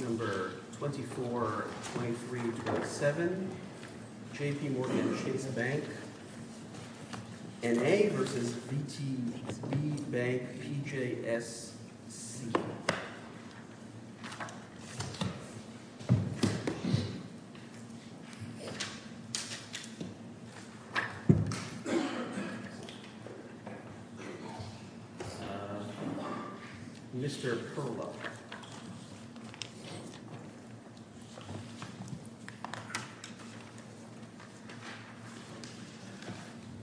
Mr. Perlow.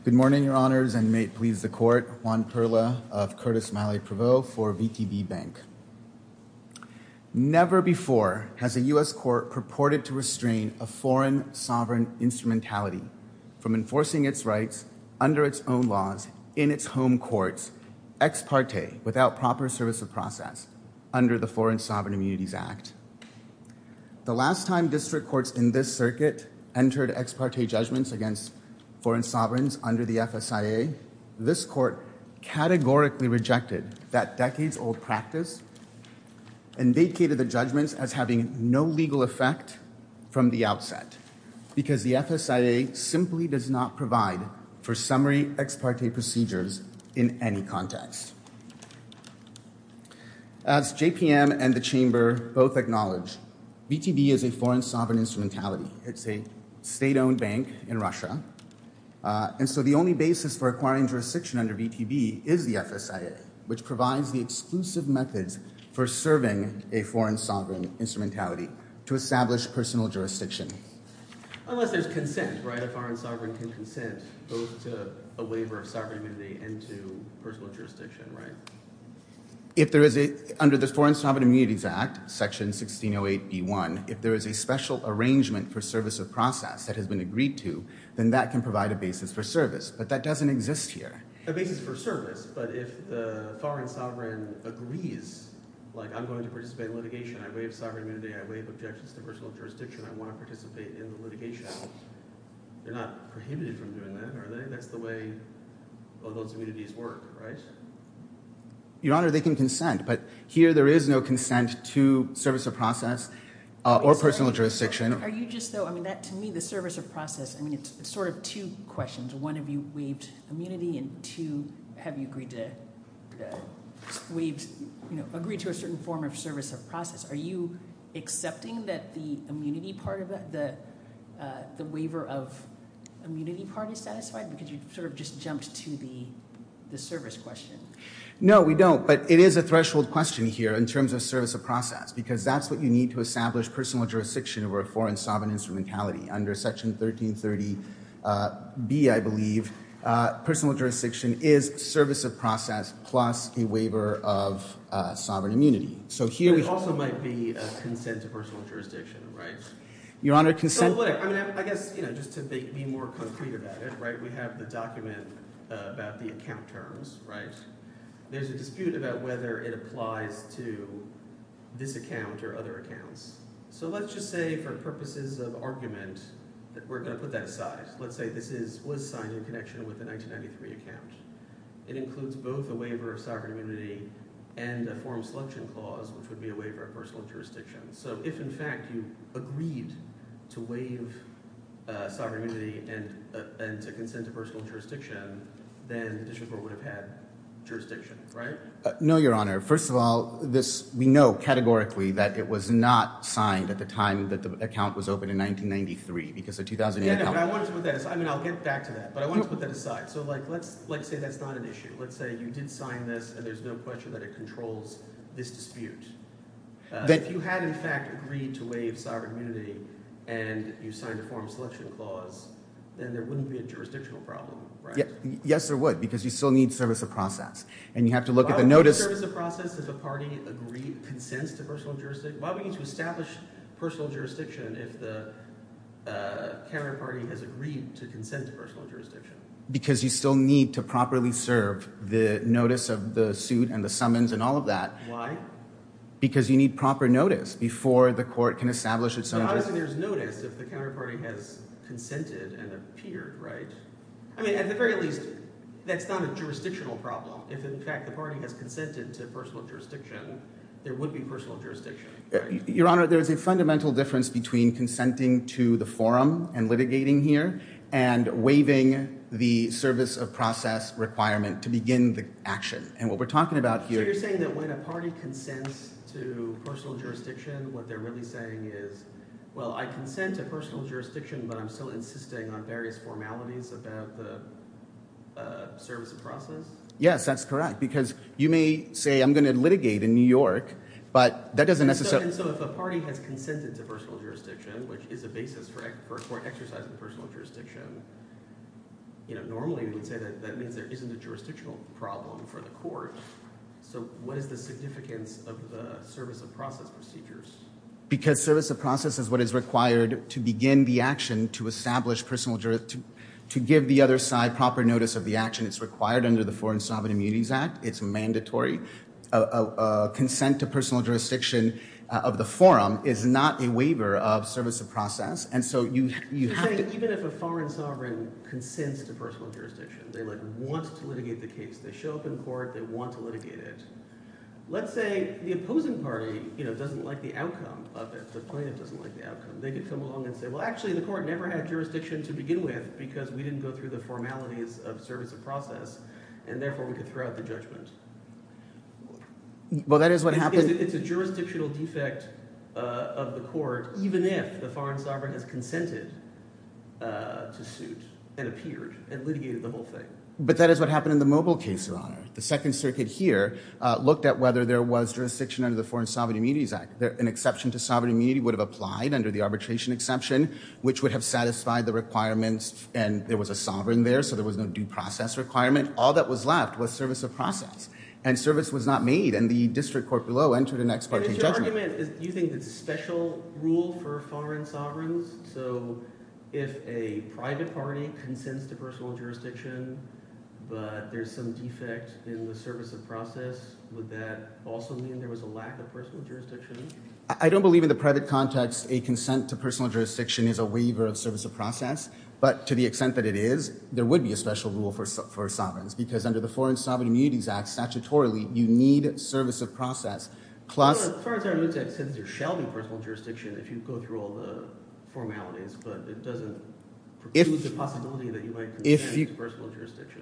Good morning, Your Honors, and may it please the Court, Juan Perlow of Curtis-Miley-Prevot for VTB Bank. Never before has a U.S. court purported to restrain a foreign sovereign instrumentality from enforcing its rights under its own laws in its home courts, ex parte, without proper service of process under the Foreign Sovereign Immunities Act. The last time district courts in this circuit entered ex parte judgments against foreign sovereigns under the FSIA, this court categorically rejected that decades-old practice and vacated the judgments as having no legal effect from the outset because the FSIA simply does not provide for summary ex parte procedures in any context. As JPM and the Chamber both acknowledge, VTB is a foreign sovereign instrumentality. It's a state-owned bank in Russia, and so the only basis for acquiring jurisdiction under VTB is the FSIA, which provides the exclusive methods for serving a foreign sovereign instrumentality to establish personal jurisdiction. Unless there's consent, right? A foreign sovereign can consent both to a waiver of sovereign immunity and to personal jurisdiction, right? If there is a—under the Foreign Sovereign Immunities Act, Section 1608b1, if there is a special arrangement for service of process that has been agreed to, then that can provide a basis for service, but that doesn't exist here. A basis for service, but if the foreign sovereign agrees, like I'm going to participate in sovereign immunity, I waive objections to personal jurisdiction, I want to participate in the litigation, they're not prohibited from doing that, are they? That's the way all those immunities work, right? Your Honor, they can consent, but here there is no consent to service of process or personal jurisdiction. Are you just, though—I mean, to me, the service of process, I mean, it's sort of two questions. One, have you waived immunity, and two, have you agreed to a certain form of service of process? Are you accepting that the immunity part of the—the waiver of immunity part is satisfied? Because you sort of just jumped to the service question. No, we don't, but it is a threshold question here in terms of service of process, because that's what you need to establish personal jurisdiction over a foreign sovereign instrumentality. Under Section 1330b, I believe, personal jurisdiction is service of process plus a waiver of sovereign immunity. But it also might be a consent to personal jurisdiction, right? Your Honor, consent— I mean, I guess, you know, just to be more concrete about it, right, we have the document about the account terms, right? There's a dispute about whether it applies to this account or other accounts. So let's just say for purposes of argument that we're going to put that aside. Let's say this is—was signed in connection with the 1993 account. It includes both a waiver of sovereign immunity and a form of selection clause, which would be a waiver of personal jurisdiction. So if, in fact, you agreed to waive sovereign immunity and to consent to personal jurisdiction, then the district court would have had jurisdiction, right? No, Your Honor. First of all, this—we know categorically that it was not signed at the time that the account was opened in 1993, because the 2008 account— Yeah, but I wanted to put that aside. I mean, I'll get back to that. But I wanted to put that aside. So, like, let's say that's not an issue. Let's say you did sign this, and there's no question that it controls this dispute. If you had, in fact, agreed to waive sovereign immunity and you signed a form of selection clause, then there wouldn't be a jurisdictional problem, right? Yes, there would, because you still need service of process. And you have to look at the notice— Why would we need service of process if a party agreed—consents to personal jurisdiction? Why would we need to establish personal jurisdiction if the counterparty has agreed to consent to personal jurisdiction? Because you still need to properly serve the notice of the suit and the summons and all of that. Because you need proper notice before the court can establish its own— But obviously, there's notice if the counterparty has consented and appeared, right? I mean, at the very least, that's not a jurisdictional problem. If, in fact, the party has consented to personal jurisdiction, there would be personal jurisdiction, right? Your Honor, there's a fundamental difference between consenting to the forum and litigating here and waiving the service of process requirement to begin the action. And what we're talking about here— So you're saying that when a party consents to personal jurisdiction, what they're really saying is, well, I consent to personal jurisdiction, but I'm still insisting on various formalities about the service of process? Yes, that's correct, because you may say I'm going to litigate in New York, but that doesn't necessarily— And so if a party has consented to personal jurisdiction, which is a basis for exercising personal jurisdiction, normally we would say that that means there isn't a jurisdictional problem for the court. So what is the significance of the service of process procedures? Because service of process is what is required to begin the action to establish personal jurisdiction, to give the other side proper notice of the action. It's required under the Foreign Sovereign Immunities Act. It's mandatory. Consent to personal jurisdiction of the forum is not a waiver of service of process. You're saying even if a foreign sovereign consents to personal jurisdiction, they want to litigate the case, they show up in court, they want to litigate it, let's say the opposing party doesn't like the outcome of it, the plaintiff doesn't like the outcome, they could come along and say, well, actually the court never had jurisdiction to begin with because we didn't go through the formalities of service of process, and therefore we could throw out the judgment. Well, that is what happened— It's a jurisdictional defect of the court even if the foreign sovereign has consented to suit and appeared and litigated the whole thing. But that is what happened in the Mobile case, Your Honor. The Second Circuit here looked at whether there was jurisdiction under the Foreign Sovereign Immunities Act. An exception to sovereign immunity would have applied under the arbitration exception, which would have satisfied the requirements, and there was a sovereign there, so there was no due process requirement. All that was left was service of process, and service was not made, and the district court below entered an ex parte judgment. And is your argument—do you think it's a special rule for foreign sovereigns? So if a private party consents to personal jurisdiction, but there's some defect in the service of process, would that also mean there was a lack of personal jurisdiction? I don't believe in the private context a consent to personal jurisdiction is a waiver of service of process, but to the extent that it is, there would be a special rule for sovereigns because under the Foreign Sovereign Immunities Act, statutorily, you need service of process, plus— Well, the Foreign Sovereign Immunities Act says there shall be personal jurisdiction if you go through all the formalities, but it doesn't preclude the possibility that you might consent to personal jurisdiction.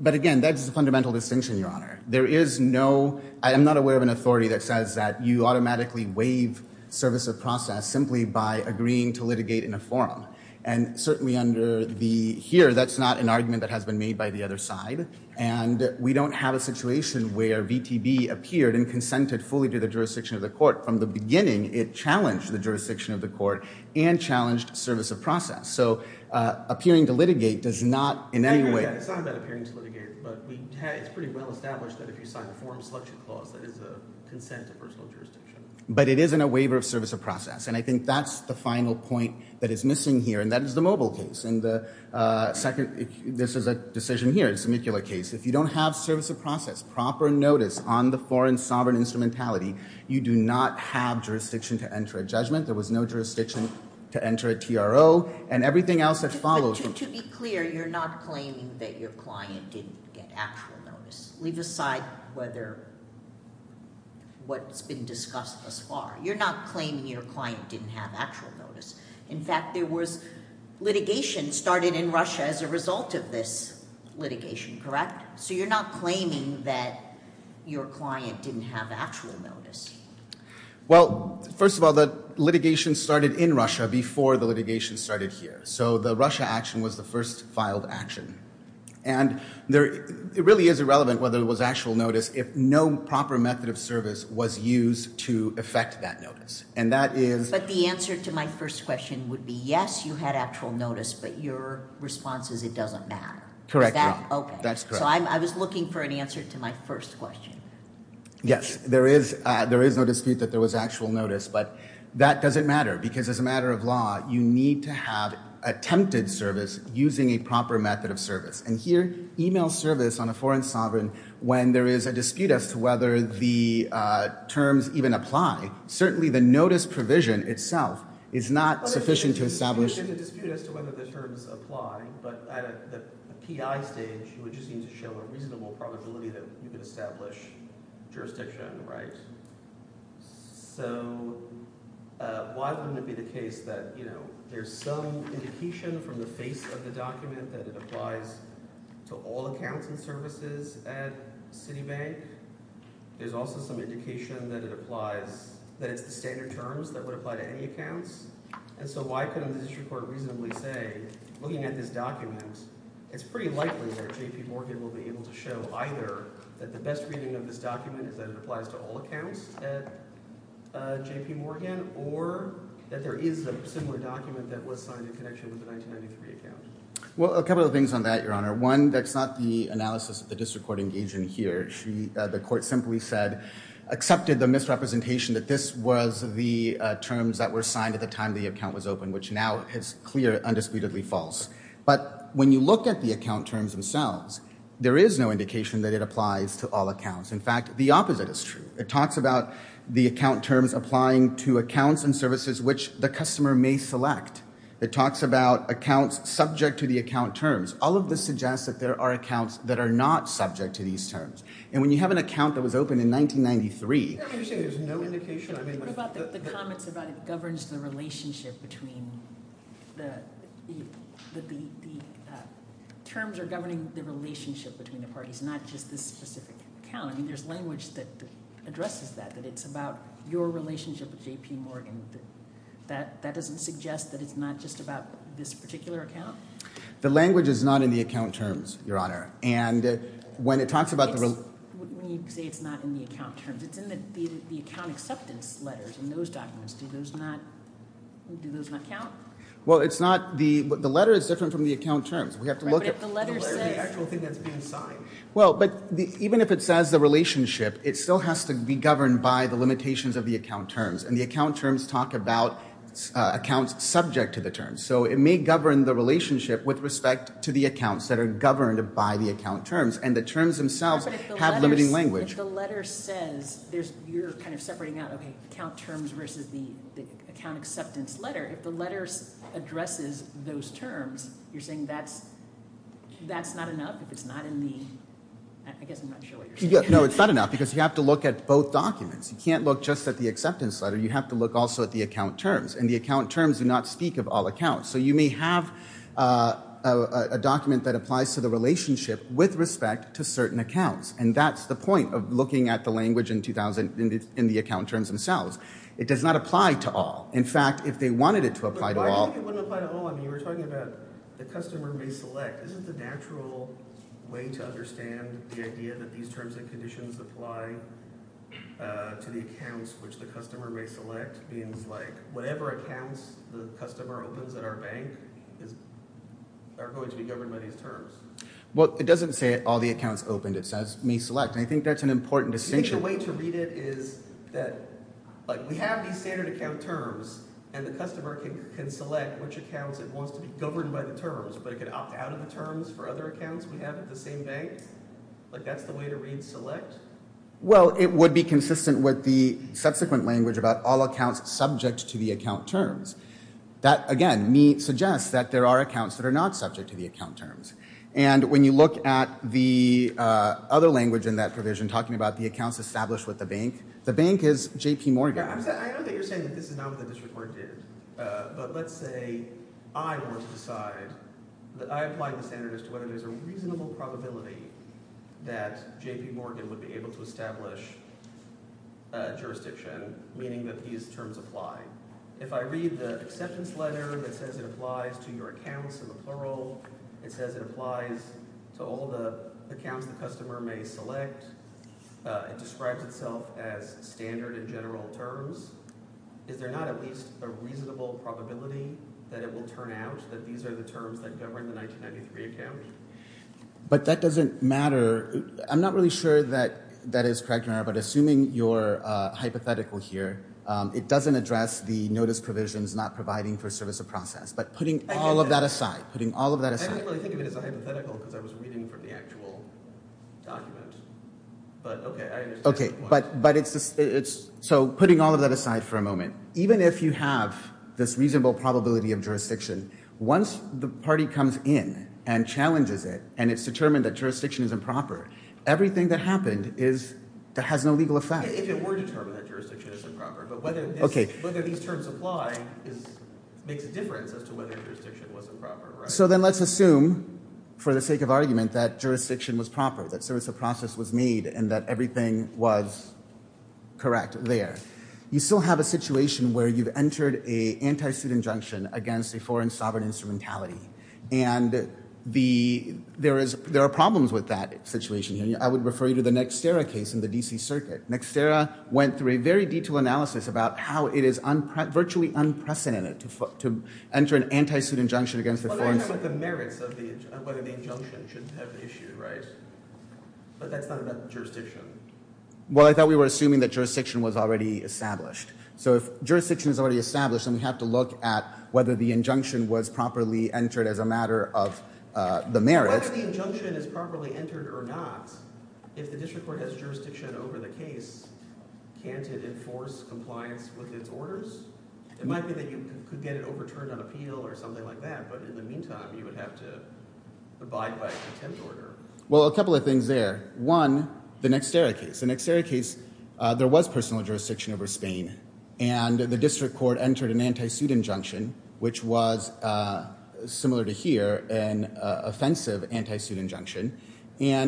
But again, that's the fundamental distinction, Your Honor. There is no—I am not aware of an authority that says that you automatically waive service of process simply by agreeing to litigate in a forum. And certainly under the—here, that's not an argument that has been made by the other side, and we don't have a situation where VTB appeared and consented fully to the jurisdiction of the court. From the beginning, it challenged the jurisdiction of the court and challenged service of process. So appearing to litigate does not in any way— It's not about appearing to litigate, but it's pretty well established that if you sign a forum selection clause, that is a consent to personal jurisdiction. But it isn't a waiver of service of process, and I think that's the final point that is missing here, and that is the Mobile case. And the second—this is a decision here. It's a amicular case. If you don't have service of process, proper notice on the foreign sovereign instrumentality, you do not have jurisdiction to enter a judgment. There was no jurisdiction to enter a TRO, and everything else that follows— But to be clear, you're not claiming that your client didn't get actual notice. Leave aside whether—what's been discussed thus far. You're not claiming your client didn't have actual notice. In fact, there was litigation started in Russia as a result of this litigation, correct? So you're not claiming that your client didn't have actual notice. Well, first of all, the litigation started in Russia before the litigation started here. So the Russia action was the first filed action. And it really is irrelevant whether there was actual notice if no proper method of service was used to effect that notice, and that is— But the answer to my first question would be, yes, you had actual notice, but your response is it doesn't matter. Correct. Okay. That's correct. So I was looking for an answer to my first question. Yes, there is no dispute that there was actual notice, but that doesn't matter because as a matter of law, you need to have attempted service using a proper method of service. And here, email service on a foreign sovereign when there is a dispute as to whether the terms even apply. Certainly the notice provision itself is not sufficient to establish— But there's a dispute as to whether the terms apply, but at a PI stage, you would just need to show a reasonable probability that you could establish jurisdiction, right? So why wouldn't it be the case that there's some indication from the face of the document that it applies to all accounts and services at Citibank? There's also some indication that it applies—that it's the standard terms that would apply to any accounts. And so why couldn't the district court reasonably say, looking at this document, it's pretty likely that J.P. Morgan will be able to show either that the best reading of this document is that it applies to all accounts at J.P. Morgan or that there is a similar document that was signed in connection with the 1993 account? Well, a couple of things on that, Your Honor. One, that's not the analysis that the district court engaged in here. The court simply said—accepted the misrepresentation that this was the terms that were signed at the time the account was opened, which now is clear, undisputedly false. But when you look at the account terms themselves, there is no indication that it applies to all accounts. In fact, the opposite is true. It talks about the account terms applying to accounts and services which the customer may select. It talks about accounts subject to the account terms. All of this suggests that there are accounts that are not subject to these terms. And when you have an account that was opened in 1993— I'm just saying there's no indication. What about the comments about it governs the relationship between the— the terms are governing the relationship between the parties, not just this specific account? I mean, there's language that addresses that, that it's about your relationship with J.P. Morgan. That doesn't suggest that it's not just about this particular account? The language is not in the account terms, Your Honor. And when it talks about the— When you say it's not in the account terms, it's in the account acceptance letters in those documents. Do those not—do those not count? Well, it's not—the letter is different from the account terms. We have to look at— But if the letter says— The letter is the actual thing that's being signed. Well, but even if it says the relationship, it still has to be governed by the limitations of the account terms. And the account terms talk about accounts subject to the terms. So it may govern the relationship with respect to the accounts that are governed by the account terms. And the terms themselves have limiting language. But if the letter says—you're kind of separating out, okay, account terms versus the account acceptance letter. If the letter addresses those terms, you're saying that's not enough? If it's not in the—I guess I'm not sure what you're saying. No, it's not enough because you have to look at both documents. You can't look just at the acceptance letter. You have to look also at the account terms. And the account terms do not speak of all accounts. So you may have a document that applies to the relationship with respect to certain accounts. And that's the point of looking at the language in the account terms themselves. It does not apply to all. In fact, if they wanted it to apply to all— But why do you think it wouldn't apply to all? I mean you were talking about the customer may select. This is the natural way to understand the idea that these terms and conditions apply to the accounts which the customer may select. It means like whatever accounts the customer opens at our bank are going to be governed by these terms. Well, it doesn't say all the accounts opened. It says may select. And I think that's an important distinction. I think the way to read it is that we have these standard account terms. And the customer can select which accounts it wants to be governed by the terms. But it could opt out of the terms for other accounts we have at the same bank? Like that's the way to read select? Well, it would be consistent with the subsequent language about all accounts subject to the account terms. That, again, suggests that there are accounts that are not subject to the account terms. And when you look at the other language in that provision talking about the accounts established with the bank, the bank is J.P. Morgan. I know that you're saying that this is not what the district court did. But let's say I were to decide that I applied the standard as to whether there's a reasonable probability that J.P. Morgan would be able to establish jurisdiction, meaning that these terms apply. If I read the acceptance letter that says it applies to your accounts in the plural, it says it applies to all the accounts the customer may select. It describes itself as standard in general terms. Is there not at least a reasonable probability that it will turn out that these are the terms that govern the 1993 account? But that doesn't matter. I'm not really sure that that is correct, but assuming you're hypothetical here, it doesn't address the notice provisions not providing for service of process. But putting all of that aside, putting all of that aside. I didn't really think of it as a hypothetical because I was reading from the actual document. But okay, I understand. So putting all of that aside for a moment, even if you have this reasonable probability of jurisdiction, once the party comes in and challenges it and it's determined that jurisdiction is improper, everything that happened has no legal effect. If it were determined that jurisdiction is improper, but whether these terms apply makes a difference as to whether jurisdiction was improper. So then let's assume for the sake of argument that jurisdiction was proper, that service of process was made, and that everything was correct there. You still have a situation where you've entered an anti-student injunction against a foreign sovereign instrumentality. And there are problems with that situation. I would refer you to the Nexterra case in the D.C. Circuit. Nexterra went through a very detailed analysis about how it is virtually unprecedented to enter an anti-student injunction against a foreign sovereign. But what about the merits of whether the injunction should have issued, right? But that's not about the jurisdiction. Well, I thought we were assuming that jurisdiction was already established. So if jurisdiction is already established, then we have to look at whether the injunction was properly entered as a matter of the merits. Whether the injunction is properly entered or not, if the district court has jurisdiction over the case, can't it enforce compliance with its orders? It might be that you could get it overturned on appeal or something like that. But in the meantime, you would have to abide by contempt order. Well, a couple of things there. One, the Nexterra case. The Nexterra case, there was personal jurisdiction over Spain. And the district court entered an anti-student injunction, which was similar to here, an offensive anti-student injunction, a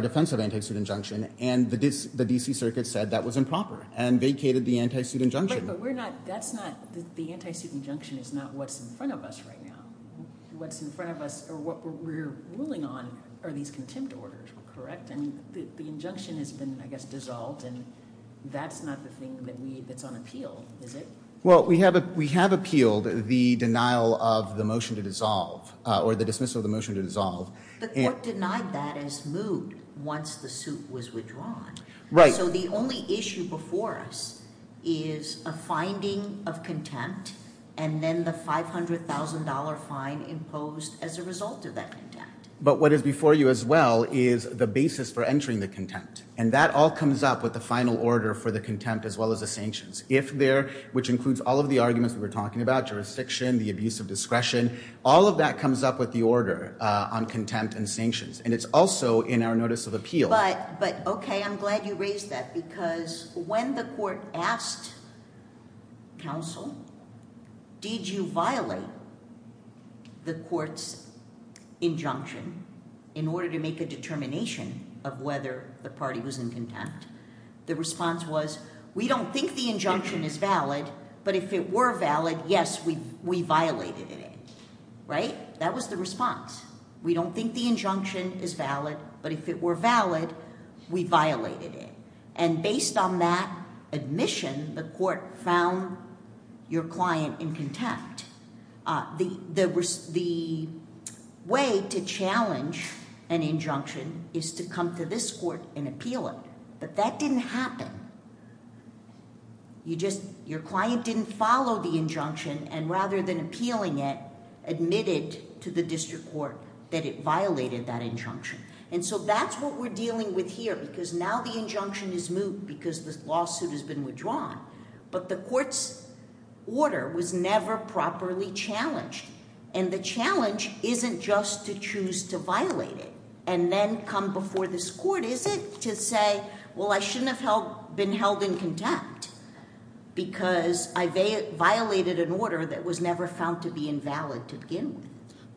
defensive anti-student injunction. And the D.C. Circuit said that was improper and vacated the anti-student injunction. But we're not – that's not – the anti-student injunction is not what's in front of us right now. What's in front of us or what we're ruling on are these contempt orders, correct? And the injunction has been, I guess, dissolved, and that's not the thing that we – that's on appeal, is it? Well, we have appealed the denial of the motion to dissolve or the dismissal of the motion to dissolve. The court denied that as moved once the suit was withdrawn. Right. So the only issue before us is a finding of contempt and then the $500,000 fine imposed as a result of that contempt. But what is before you as well is the basis for entering the contempt. And that all comes up with the final order for the contempt as well as the sanctions. If there – which includes all of the arguments we were talking about – jurisdiction, the abuse of discretion – all of that comes up with the order on contempt and sanctions. And it's also in our notice of appeal. But, OK, I'm glad you raised that because when the court asked counsel, did you violate the court's injunction in order to make a determination of whether the party was in contempt, the response was, we don't think the injunction is valid, but if it were valid, yes, we violated it. Right? That was the response. We don't think the injunction is valid, but if it were valid, we violated it. And based on that admission, the court found your client in contempt. The way to challenge an injunction is to come to this court and appeal it. But that didn't happen. You just – your client didn't follow the injunction and rather than appealing it, admitted to the district court that it violated that injunction. And so that's what we're dealing with here because now the injunction is moved because the lawsuit has been withdrawn. But the court's order was never properly challenged. And the challenge isn't just to choose to violate it and then come before this court, is it, to say, well, I shouldn't have been held in contempt because I violated an order that was never found to be invalid to begin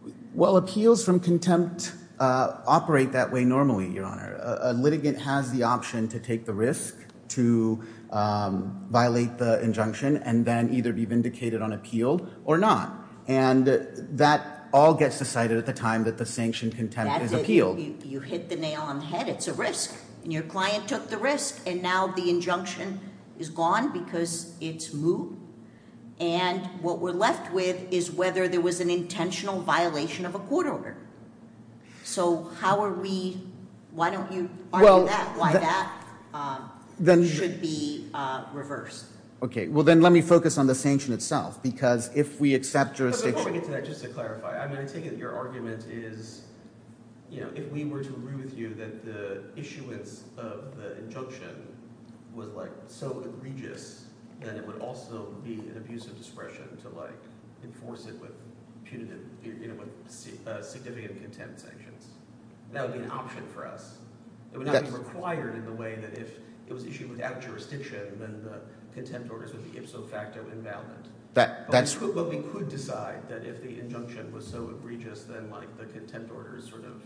with. Well, appeals from contempt operate that way normally, Your Honor. A litigant has the option to take the risk to violate the injunction and then either be vindicated on appeal or not. And that all gets decided at the time that the sanctioned contempt is appealed. You hit the nail on the head. It's a risk. And your client took the risk, and now the injunction is gone because it's moved. And what we're left with is whether there was an intentional violation of a court order. So how are we—why don't you argue that? Why that should be reversed. Okay, well, then let me focus on the sanction itself because if we accept jurisdiction— But before we get to that, just to clarify, I mean, I take it your argument is, you know, if we were to agree with you that the issuance of the injunction was, like, so egregious that it would also be an abuse of discretion to, like, enforce it with punitive— you know, with significant contempt sanctions. That would be an option for us. It would not be required in the way that if it was issued without jurisdiction, then the contempt orders would be ipso facto invalid. But we could decide that if the injunction was so egregious, then, like, the contempt orders sort of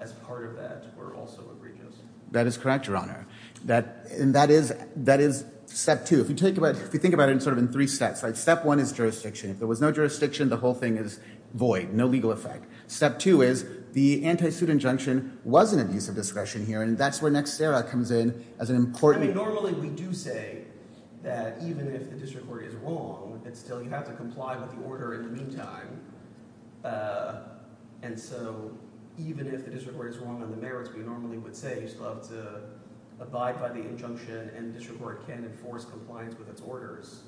as part of that were also egregious. That is correct, Your Honor. And that is step two. If you think about it sort of in three steps, like, step one is jurisdiction. If there was no jurisdiction, the whole thing is void, no legal effect. Step two is the anti-suit injunction was an abuse of discretion here, and that's where Nextera comes in as an important— I mean, normally we do say that even if the district court is wrong, it's still—you have to comply with the order in the meantime. And so even if the district court is wrong on the merits, we normally would say you still have to abide by the injunction, and the district court can enforce compliance with its orders.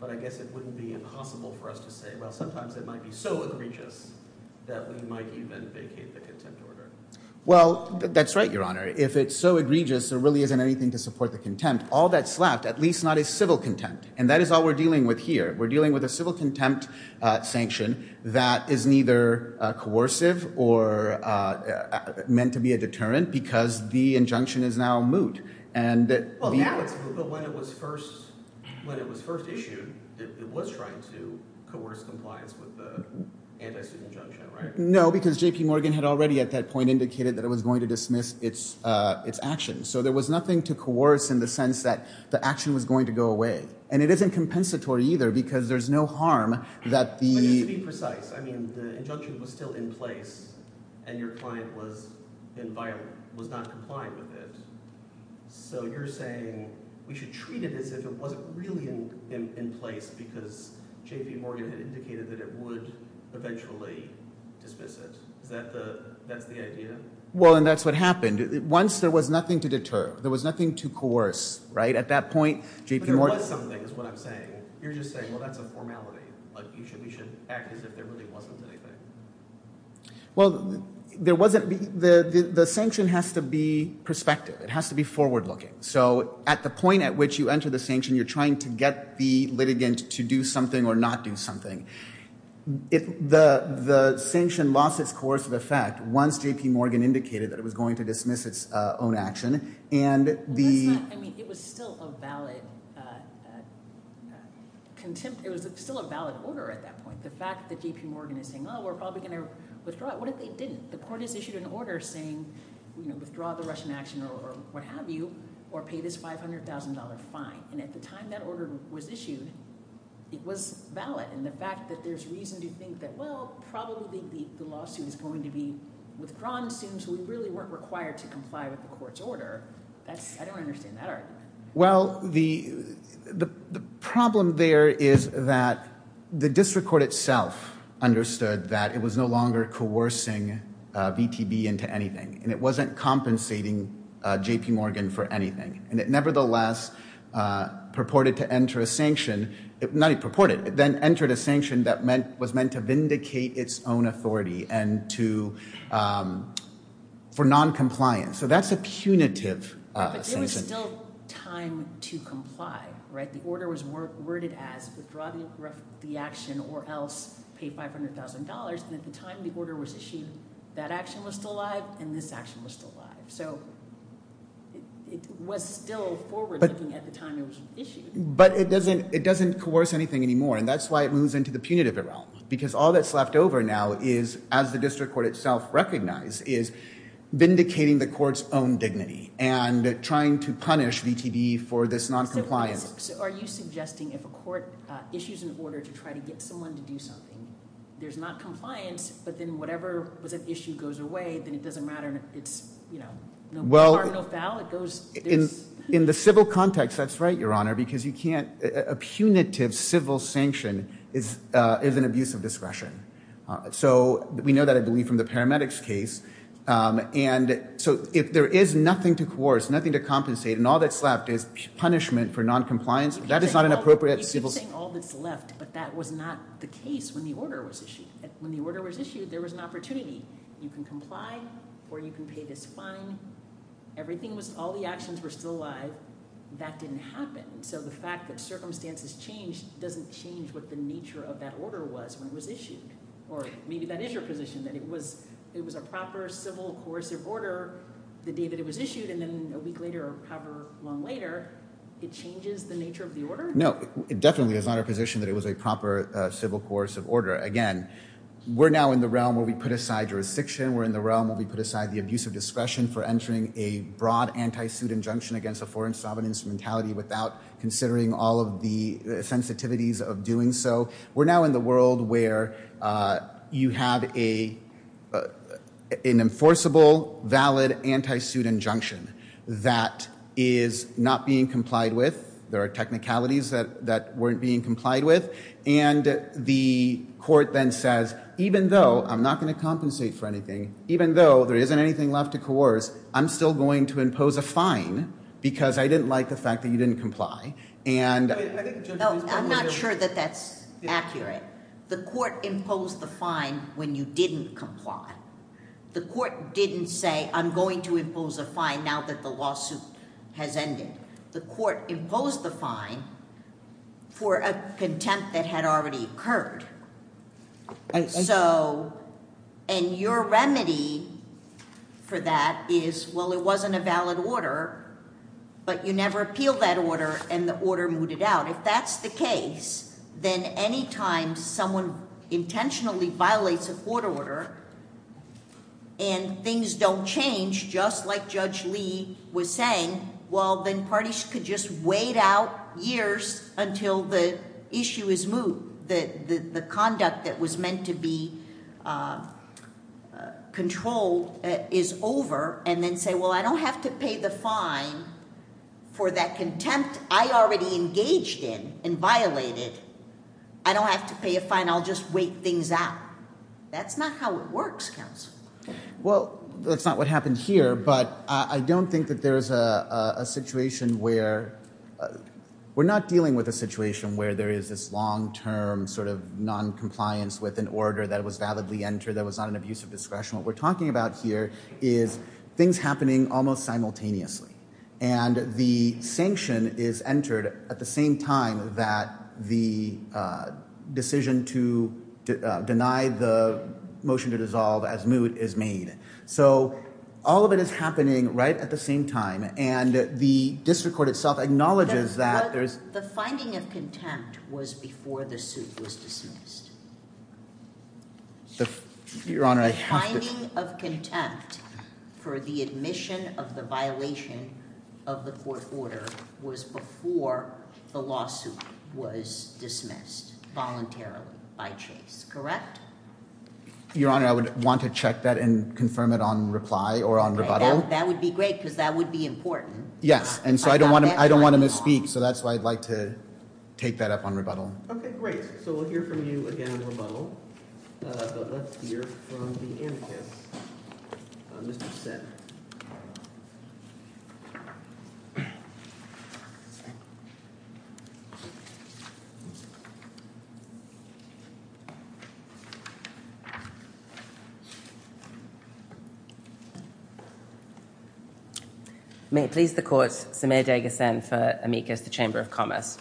But I guess it wouldn't be impossible for us to say, well, sometimes it might be so egregious that we might even vacate the contempt order. Well, that's right, Your Honor. If it's so egregious, there really isn't anything to support the contempt. All that's left, at least not is civil contempt, and that is all we're dealing with here. We're dealing with a civil contempt sanction that is neither coercive or meant to be a deterrent because the injunction is now moot. But when it was first issued, it was trying to coerce compliance with the anti-suit injunction, right? No, because J.P. Morgan had already at that point indicated that it was going to dismiss its action. So there was nothing to coerce in the sense that the action was going to go away. And it isn't compensatory either because there's no harm that the— Just to be precise, I mean the injunction was still in place and your client was not complying with it. So you're saying we should treat it as if it wasn't really in place because J.P. Morgan had indicated that it would eventually dismiss it. Is that the – that's the idea? Well, and that's what happened. Once there was nothing to deter, there was nothing to coerce, right? At that point, J.P. Morgan— But there was something is what I'm saying. You're just saying, well, that's a formality. Like you should—we should act as if there really wasn't anything. Well, there wasn't—the sanction has to be prospective. It has to be forward-looking. So at the point at which you enter the sanction, you're trying to get the litigant to do something or not do something. The sanction lost its coercive effect once J.P. Morgan indicated that it was going to dismiss its own action. I mean, it was still a valid contempt—it was still a valid order at that point. The fact that J.P. Morgan is saying, oh, we're probably going to withdraw it. What if they didn't? The court has issued an order saying withdraw the Russian action or what have you or pay this $500,000 fine. And at the time that order was issued, it was valid. And the fact that there's reason to think that, well, probably the lawsuit is going to be withdrawn soon so we really weren't required to comply with the court's order. I don't understand that argument. Well, the problem there is that the district court itself understood that it was no longer coercing VTB into anything. And it wasn't compensating J.P. Morgan for anything. And it nevertheless purported to enter a sanction—not purported. It then entered a sanction that was meant to vindicate its own authority and to—for noncompliance. So that's a punitive sanction. But there was still time to comply. The order was worded as withdraw the action or else pay $500,000. And at the time the order was issued, that action was still alive and this action was still alive. So it was still forward-looking at the time it was issued. But it doesn't coerce anything anymore. And that's why it moves into the punitive realm because all that's left over now is, as the district court itself recognized, is vindicating the court's own dignity and trying to punish VTB for this noncompliance. So are you suggesting if a court issues an order to try to get someone to do something, there's not compliance, but then whatever was at issue goes away, then it doesn't matter. It's, you know, no bar, no foul. In the civil context, that's right, Your Honor, because you can't—a punitive civil sanction is an abuse of discretion. So we know that, I believe, from the paramedics case. And so if there is nothing to coerce, nothing to compensate, and all that's left is punishment for noncompliance, that is not an appropriate civil— You keep saying all that's left, but that was not the case when the order was issued. When the order was issued, there was an opportunity. You can comply or you can pay this fine. Everything was—all the actions were still alive. That didn't happen. So the fact that circumstances changed doesn't change what the nature of that order was when it was issued. Or maybe that is your position, that it was a proper civil coercive order the day that it was issued, and then a week later or however long later, it changes the nature of the order? No, it definitely is not our position that it was a proper civil coercive order. Again, we're now in the realm where we put aside jurisdiction. We're in the realm where we put aside the abuse of discretion for entering a broad anti-suit injunction against a foreign sovereign instrumentality without considering all of the sensitivities of doing so. We're now in the world where you have an enforceable, valid anti-suit injunction that is not being complied with. There are technicalities that weren't being complied with. And the court then says, even though I'm not going to compensate for anything, even though there isn't anything left to coerce, I'm still going to impose a fine because I didn't like the fact that you didn't comply. I'm not sure that that's accurate. The court imposed the fine when you didn't comply. The court didn't say, I'm going to impose a fine now that the lawsuit has ended. The court imposed the fine for a contempt that had already occurred. And your remedy for that is, well, it wasn't a valid order, but you never appealed that order and the order mooted out. If that's the case, then any time someone intentionally violates a court order and things don't change, just like Judge Lee was saying, well, then parties could just wait out years until the issue is moot, the conduct that was meant to be controlled is over, and then say, well, I don't have to pay the fine for that contempt. I already engaged in and violated. I don't have to pay a fine. I'll just wait things out. That's not how it works, counsel. Well, that's not what happened here. But I don't think that there is a situation where we're not dealing with a situation where there is this long term sort of noncompliance with an order that was validly entered that was not an abuse of discretion. What we're talking about here is things happening almost simultaneously. And the sanction is entered at the same time that the decision to deny the motion to dissolve as moot is made. So all of it is happening right at the same time. And the district court itself acknowledges that there is the finding of contempt was before the suit was dismissed. Your Honor, I have of contempt for the admission of the violation of the court order was before the lawsuit was dismissed voluntarily by Chase. Correct. Your Honor, I would want to check that and confirm it on reply or on rebuttal. That would be great because that would be important. Yes. And so I don't want to I don't want to misspeak. So that's why I'd like to take that up on rebuttal. OK, great. So we'll hear from you again. Let's hear from the. May it please the courts. Samir Degas and Amicus, the Chamber of Commerce.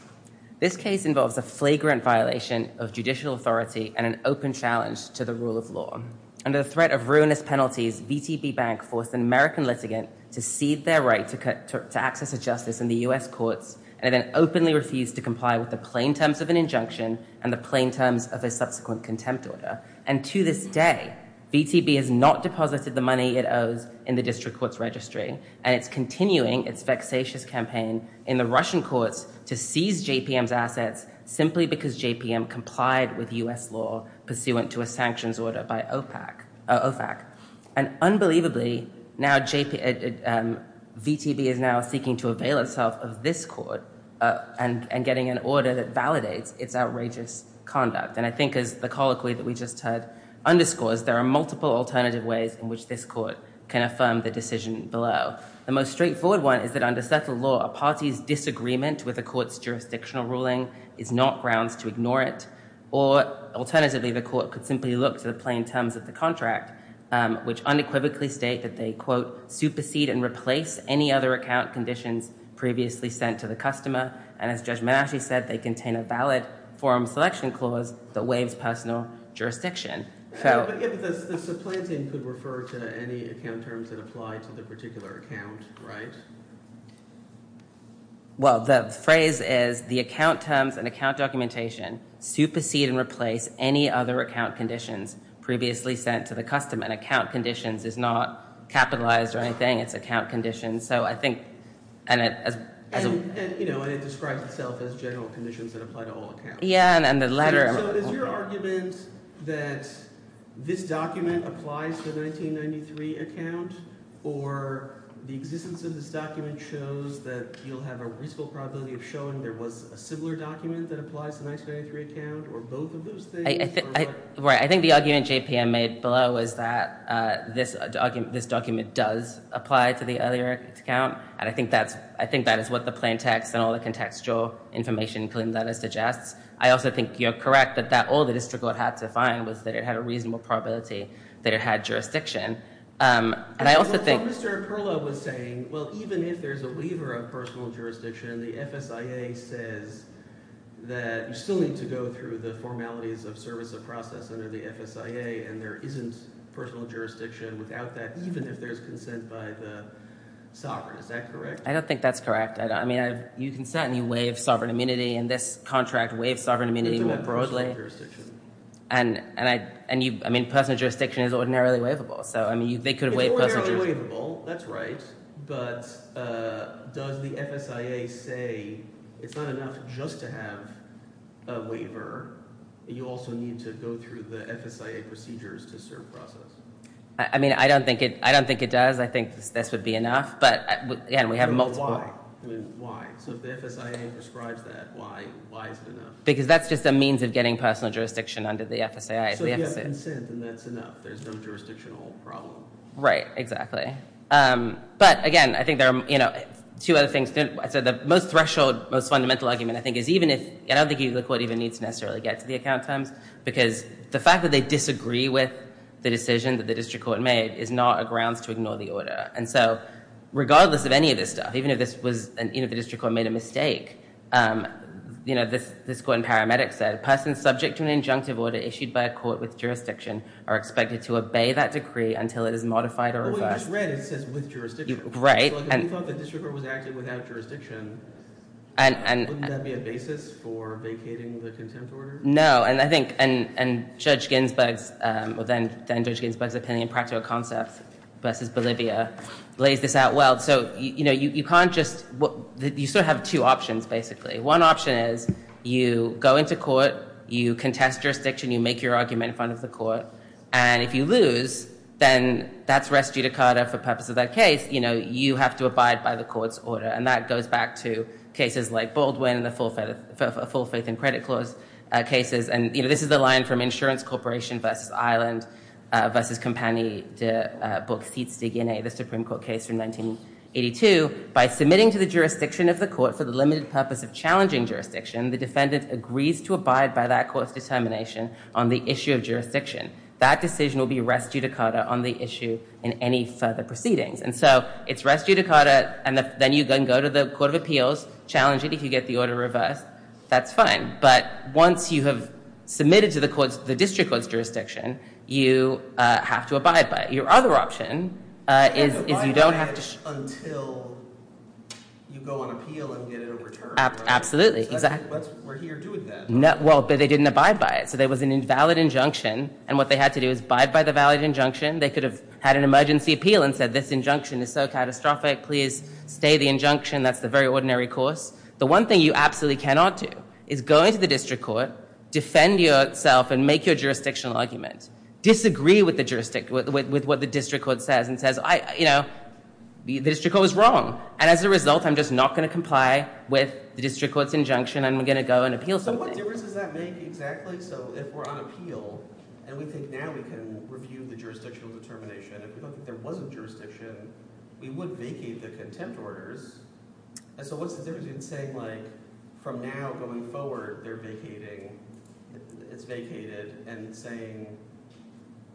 This case involves a flagrant violation of judicial authority and an open challenge to the rule of law. Under the threat of ruinous penalties, VTB Bank forced an American litigant to cede their right to access to justice in the U.S. courts. And then openly refused to comply with the plain terms of an injunction and the plain terms of a subsequent contempt order. And to this day, VTB has not deposited the money it owes in the district court's registry. And it's continuing its vexatious campaign in the Russian courts to seize JPM's assets simply because JPM complied with U.S. law pursuant to a sanctions order by OPAC. And unbelievably, now VTB is now seeking to avail itself of this court and getting an order that validates its outrageous conduct. And I think as the colloquy that we just heard underscores, there are multiple alternative ways in which this court can affirm the decision below. The most straightforward one is that under settled law, a party's disagreement with a court's jurisdictional ruling is not grounds to ignore it. Or alternatively, the court could simply look to the plain terms of the contract, which unequivocally state that they, quote, supersede and replace any other account conditions previously sent to the customer. And as Judge Menasche said, they contain a valid forum selection clause that waives personal jurisdiction. So – But the plain thing could refer to any account terms that apply to the particular account, right? Well, the phrase is the account terms and account documentation supersede and replace any other account conditions previously sent to the customer. And account conditions is not capitalized or anything. It's account conditions. So I think – And it describes itself as general conditions that apply to all accounts. Yeah, and the latter – So is your argument that this document applies to the 1993 account, or the existence of this document shows that you'll have a reasonable probability of showing there was a similar document that applies to the 1993 account, or both of those things? I think the argument JPM made below is that this document does apply to the earlier account. And I think that is what the plain text and all the contextual information in the letters suggests. I also think you're correct that all the district court had to find was that it had a reasonable probability that it had jurisdiction. And I also think – What Mr. Perlow was saying, well, even if there's a waiver of personal jurisdiction, the FSIA says that you still need to go through the formalities of service of process under the FSIA, and there isn't personal jurisdiction without that, even if there's consent by the sovereign. Is that correct? I don't think that's correct. I mean you can certainly waive sovereign immunity in this contract, waive sovereign immunity more broadly. And I mean personal jurisdiction is ordinarily waivable. So I mean they could have waived personal jurisdiction. It's ordinarily waivable. That's right. But does the FSIA say it's not enough just to have a waiver. You also need to go through the FSIA procedures to serve process. I mean I don't think it does. I think this would be enough. But again, we have multiple – I mean why? So if the FSIA prescribes that, why is it enough? Because that's just a means of getting personal jurisdiction under the FSIA. So you have consent and that's enough. There's no jurisdictional problem. Right, exactly. But again, I think there are two other things. So the most threshold, most fundamental argument I think is even if – I don't think the court even needs to necessarily get to the account terms because the fact that they disagree with the decision that the district court made is not a grounds to ignore the order. And so regardless of any of this stuff, even if the district court made a mistake, this court in Paramedic said, persons subject to an injunctive order issued by a court with jurisdiction are expected to obey that decree until it is modified or reversed. I just read it says with jurisdiction. Right. So if we thought the district court was acting without jurisdiction, wouldn't that be a basis for vacating the contempt order? No. And I think Judge Ginsburg's – well then Judge Ginsburg's opinion practical concept versus Bolivia lays this out well. So you can't just – you still have two options basically. One option is you go into court, you contest jurisdiction, you make your argument in front of the court, and if you lose, then that's res judicata for purpose of that case. You know, you have to abide by the court's order, and that goes back to cases like Baldwin and the full faith in credit clause cases. And, you know, this is the line from Insurance Corporation v. Ireland v. Compagnie de Bauxites de Guinée, the Supreme Court case from 1982. By submitting to the jurisdiction of the court for the limited purpose of challenging jurisdiction, the defendant agrees to abide by that court's determination on the issue of jurisdiction. That decision will be res judicata on the issue in any further proceedings. And so it's res judicata, and then you can go to the court of appeals, challenge it if you get the order reversed. That's fine. But once you have submitted to the district court's jurisdiction, you have to abide by it. Your other option is you don't have to – So you have to abide by it until you go on appeal and get it in return. Absolutely, exactly. We're here doing that. Well, but they didn't abide by it. So there was an invalid injunction, and what they had to do is abide by the valid injunction. They could have had an emergency appeal and said, this injunction is so catastrophic, please stay the injunction. That's the very ordinary course. The one thing you absolutely cannot do is go into the district court, defend yourself, and make your jurisdictional argument. Disagree with what the district court says and says, you know, the district court was wrong. And as a result, I'm just not going to comply with the district court's injunction. I'm going to go and appeal something. So what difference does that make exactly? So if we're on appeal and we think now we can review the jurisdictional determination, if we don't think there was a jurisdiction, we would vacate the contempt orders. And so what's the difference in saying, like, from now going forward, they're vacating, it's vacated, and saying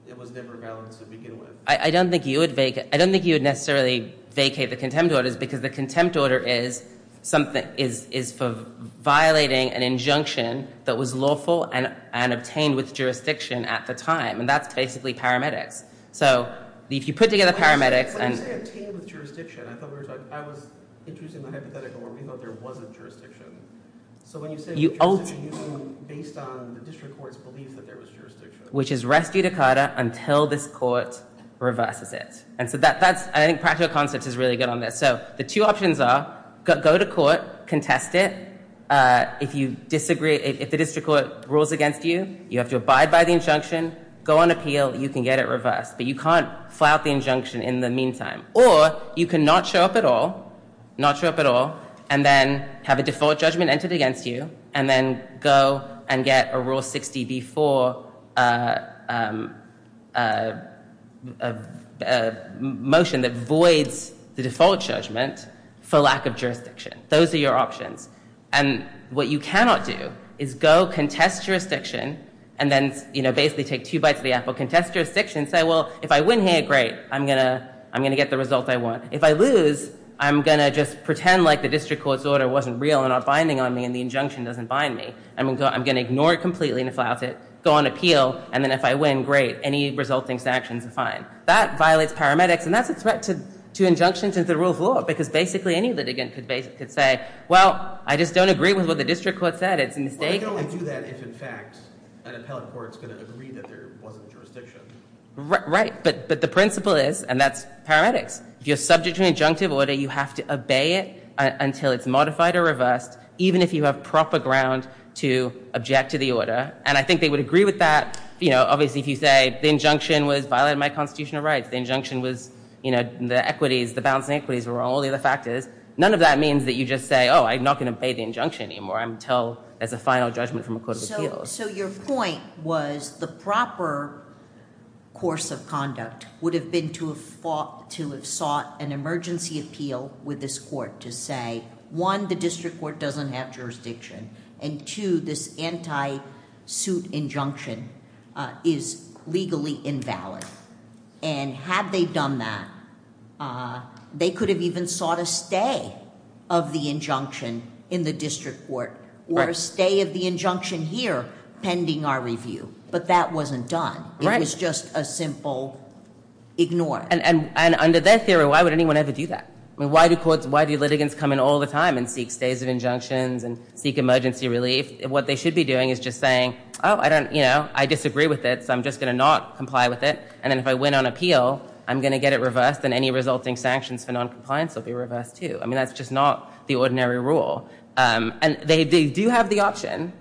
it was never valid to begin with? I don't think you would necessarily vacate the contempt orders, because the contempt order is for violating an injunction that was lawful and obtained with jurisdiction at the time. And that's basically paramedics. So if you put together paramedics and – When you say obtained with jurisdiction, I thought I was introducing the hypothetical where we thought there wasn't jurisdiction. So when you say jurisdiction, you mean based on the district court's belief that there was jurisdiction. Which is res judicata until this court reverses it. And so that's – I think practical concepts is really good on this. So the two options are go to court, contest it. If the district court rules against you, you have to abide by the injunction, go on appeal, you can get it reversed. But you can't file the injunction in the meantime. Or you can not show up at all, not show up at all, and then have a default judgment entered against you, and then go and get a rule 60B4 motion that voids the default judgment for lack of jurisdiction. Those are your options. And what you cannot do is go contest jurisdiction, and then basically take two bites of the apple, contest jurisdiction, and say, well, if I win here, great, I'm going to get the result I want. If I lose, I'm going to just pretend like the district court's order wasn't real and they're not binding on me and the injunction doesn't bind me. I'm going to ignore it completely and flout it, go on appeal, and then if I win, great, any resulting sanctions are fine. That violates paramedics, and that's a threat to injunctions and the rule of law because basically any litigant could say, well, I just don't agree with what the district court said. It's a mistake. But they can only do that if, in fact, an appellate court is going to agree that there wasn't jurisdiction. Right. But the principle is, and that's paramedics, if you're subject to an injunctive order, you have to obey it until it's modified or reversed, even if you have proper ground to object to the order. And I think they would agree with that, you know, obviously if you say the injunction was violating my constitutional rights, the injunction was, you know, the equities, the balancing equities were wrong, all the other factors, none of that means that you just say, oh, I'm not going to obey the injunction anymore until there's a final judgment from a court of appeals. So your point was the proper course of conduct would have been to have sought an emergency appeal with this court to say, one, the district court doesn't have jurisdiction, and two, this anti-suit injunction is legally invalid. And had they done that, they could have even sought a stay of the injunction in the district court, or a stay of the injunction here pending our review. But that wasn't done. It was just a simple ignore. And under their theory, why would anyone ever do that? I mean, why do litigants come in all the time and seek stays of injunctions and seek emergency relief? What they should be doing is just saying, oh, I don't, you know, I disagree with it, so I'm just going to not comply with it, and then if I win on appeal, I'm going to get it reversed and any resulting sanctions for noncompliance will be reversed too. I mean, that's just not the ordinary rule. And they do have the option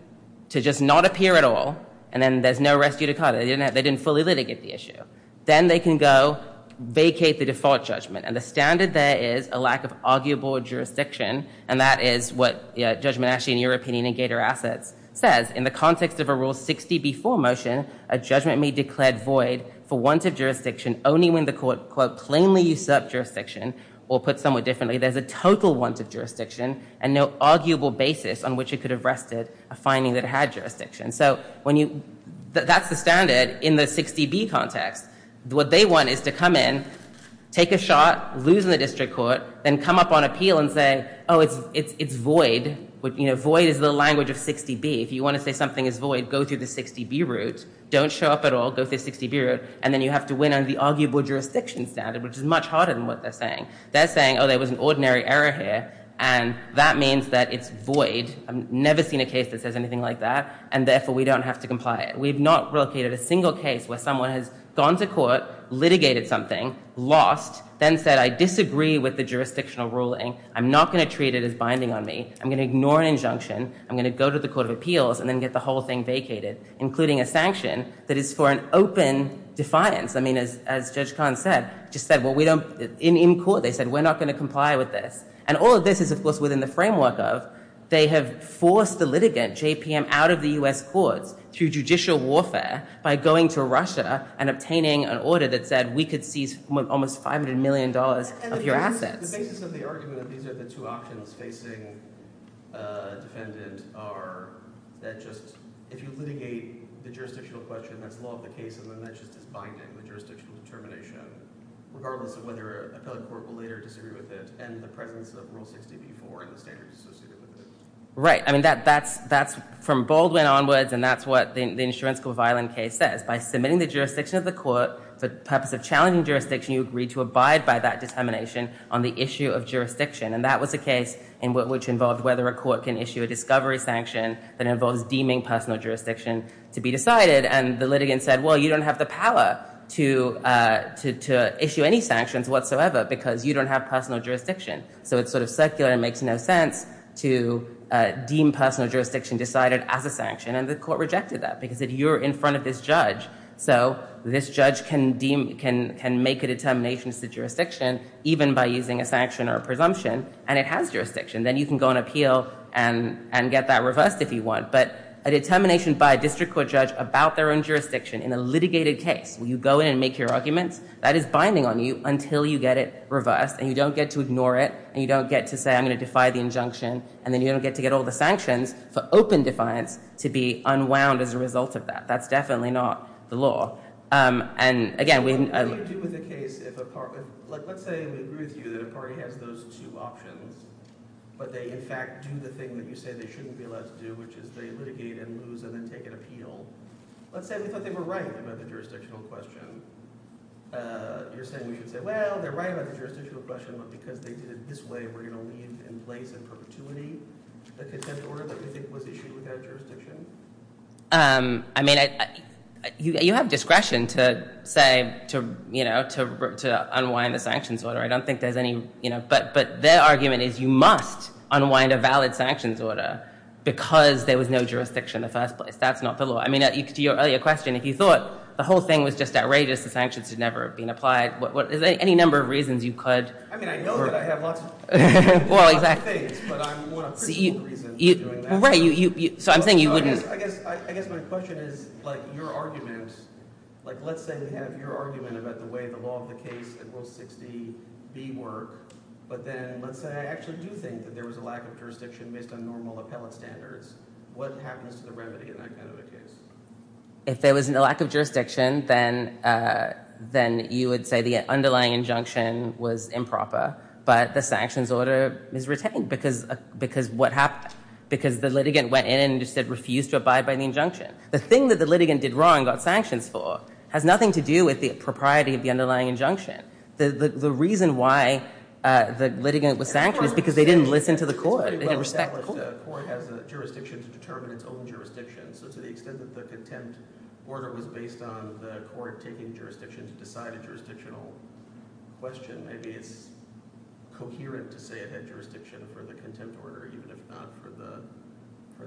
to just not appear at all, and then there's no rescue to come. They didn't fully litigate the issue. Then they can go vacate the default judgment. And the standard there is a lack of arguable jurisdiction, and that is what judgment actually in your opinion in Gator Assets says. In the context of a Rule 60B4 motion, a judgment may declare void for want of jurisdiction only when the court, quote, plainly usurp jurisdiction, or put somewhat differently, there's a total want of jurisdiction and no arguable basis on which it could have rested a finding that had jurisdiction. So when you, that's the standard in the 60B context. What they want is to come in, take a shot, lose in the district court, then come up on appeal and say, oh, it's void. You know, void is the language of 60B. If you want to say something is void, go through the 60B route, don't show up at all, go through the 60B route, and then you have to win on the arguable jurisdiction standard, which is much harder than what they're saying. They're saying, oh, there was an ordinary error here, and that means that it's void. I've never seen a case that says anything like that, and therefore we don't have to comply. We have not relocated a single case where someone has gone to court, litigated something, lost, then said I disagree with the jurisdictional ruling, I'm not going to treat it as binding on me, I'm going to ignore an injunction, I'm going to go to the court of appeals, and then get the whole thing vacated, including a sanction that is for an open defiance. I mean, as Judge Kahn said, just said, well, we don't, in court they said, we're not going to comply with this. And all of this is, of course, within the framework of they have forced the litigant, JPM, out of the U.S. courts through judicial warfare by going to Russia and obtaining an order that said we could seize almost $500 million of your assets. The basis of the argument that these are the two options facing a defendant are that just, if you litigate the jurisdictional question, that's law of the case, and then that just is binding the jurisdictional determination, regardless of whether an appellate court will later disagree with it, and the presence of Rule 60b-4 and the standards associated with it. Right. I mean, that's from Baldwin onwards, and that's what the Insurance Court of Ireland case says. By submitting the jurisdiction of the court for the purpose of challenging jurisdiction, you agree to abide by that determination on the issue of jurisdiction, and that was a case in which involved whether a court can issue a discovery sanction that involves deeming personal jurisdiction to be decided, and the litigant said, well, you don't have the power to issue any sanctions whatsoever because you don't have personal jurisdiction. So it's sort of circular and makes no sense to deem personal jurisdiction decided as a sanction, and the court rejected that because you're in front of this judge, so this judge can make a determination as to jurisdiction even by using a sanction or a presumption, and it has jurisdiction. Then you can go and appeal and get that reversed if you want, but a determination by a district court judge about their own jurisdiction in a litigated case where you go in and make your arguments, that is binding on you until you get it reversed and you don't get to ignore it and you don't get to say, I'm going to defy the injunction, and then you don't get to get all the sanctions for open defiance to be unwound as a result of that. That's definitely not the law. What do you do with a case if, let's say we agree with you that a party has those two options, but they in fact do the thing that you say they shouldn't be allowed to do, which is they litigate and lose and then take an appeal. Let's say we thought they were right about the jurisdictional question. You're saying we should say, well, they're right about the jurisdictional question, but because they did it this way, we're going to leave in place in perpetuity a contempt order that we think was issued without jurisdiction? I mean, you have discretion to say, you know, to unwind the sanctions order. I don't think there's any, you know, but their argument is you must unwind a valid sanctions order because there was no jurisdiction in the first place. That's not the law. I mean, to your earlier question, if you thought the whole thing was just outrageous, the sanctions had never been applied, is there any number of reasons you could? I mean, I know that I have lots of things, but I'm more of a principled reason for doing that. So I'm saying you wouldn't. I guess my question is, like, your argument, like, let's say we have your argument about the way the law of the case and Rule 60B work, but then let's say I actually do think that there was a lack of jurisdiction based on normal appellate standards. What happens to the remedy in that kind of a case? If there was a lack of jurisdiction, then you would say the underlying injunction was improper, but the sanctions order is retained because what happened? Because the litigant went in and just said refuse to abide by the injunction. The thing that the litigant did wrong, got sanctions for, has nothing to do with the propriety of the underlying injunction. The reason why the litigant was sanctioned is because they didn't listen to the court. They didn't respect the court. The court has a jurisdiction to determine its own jurisdiction. So to the extent that the contempt order was based on the court taking jurisdiction to decide a jurisdictional question, maybe it's coherent to say it had jurisdiction for the contempt order, even if not for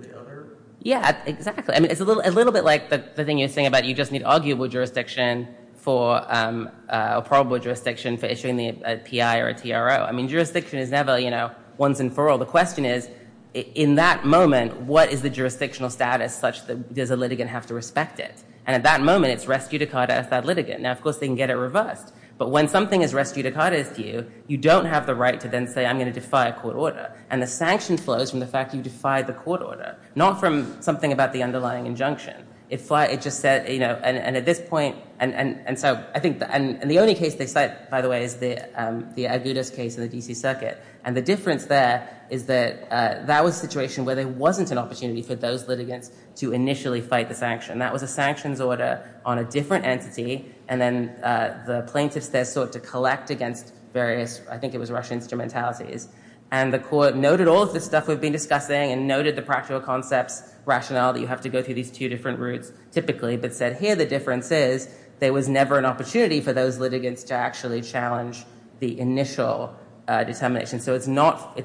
the other? Yeah, exactly. I mean, it's a little bit like the thing you're saying about you just need arguable jurisdiction for a probable jurisdiction for issuing a PI or a TRO. I mean, jurisdiction is never, you know, once and for all. The question is, in that moment, what is the jurisdictional status such that does a litigant have to respect it? And at that moment, it's res judicata as that litigant. Now, of course, they can get it reversed. But when something is res judicata to you, you don't have the right to then say, I'm going to defy a court order. And the sanction flows from the fact you defied the court order, not from something about the underlying injunction. It just said, you know, and at this point, and so I think, and the only case they cite, by the way, is the Agudas case in the D.C. Circuit. And the difference there is that that was a situation where there wasn't an opportunity for those litigants to initially fight the sanction. That was a sanctions order on a different entity. And then the plaintiffs there sought to collect against various, I think it was Russian instrumentalities. And the court noted all of the stuff we've been discussing and noted the practical concepts, rationale that you have to go through these two different routes, typically, but said, here the difference is there was never an opportunity for those litigants to actually challenge the initial determination. So it's not, it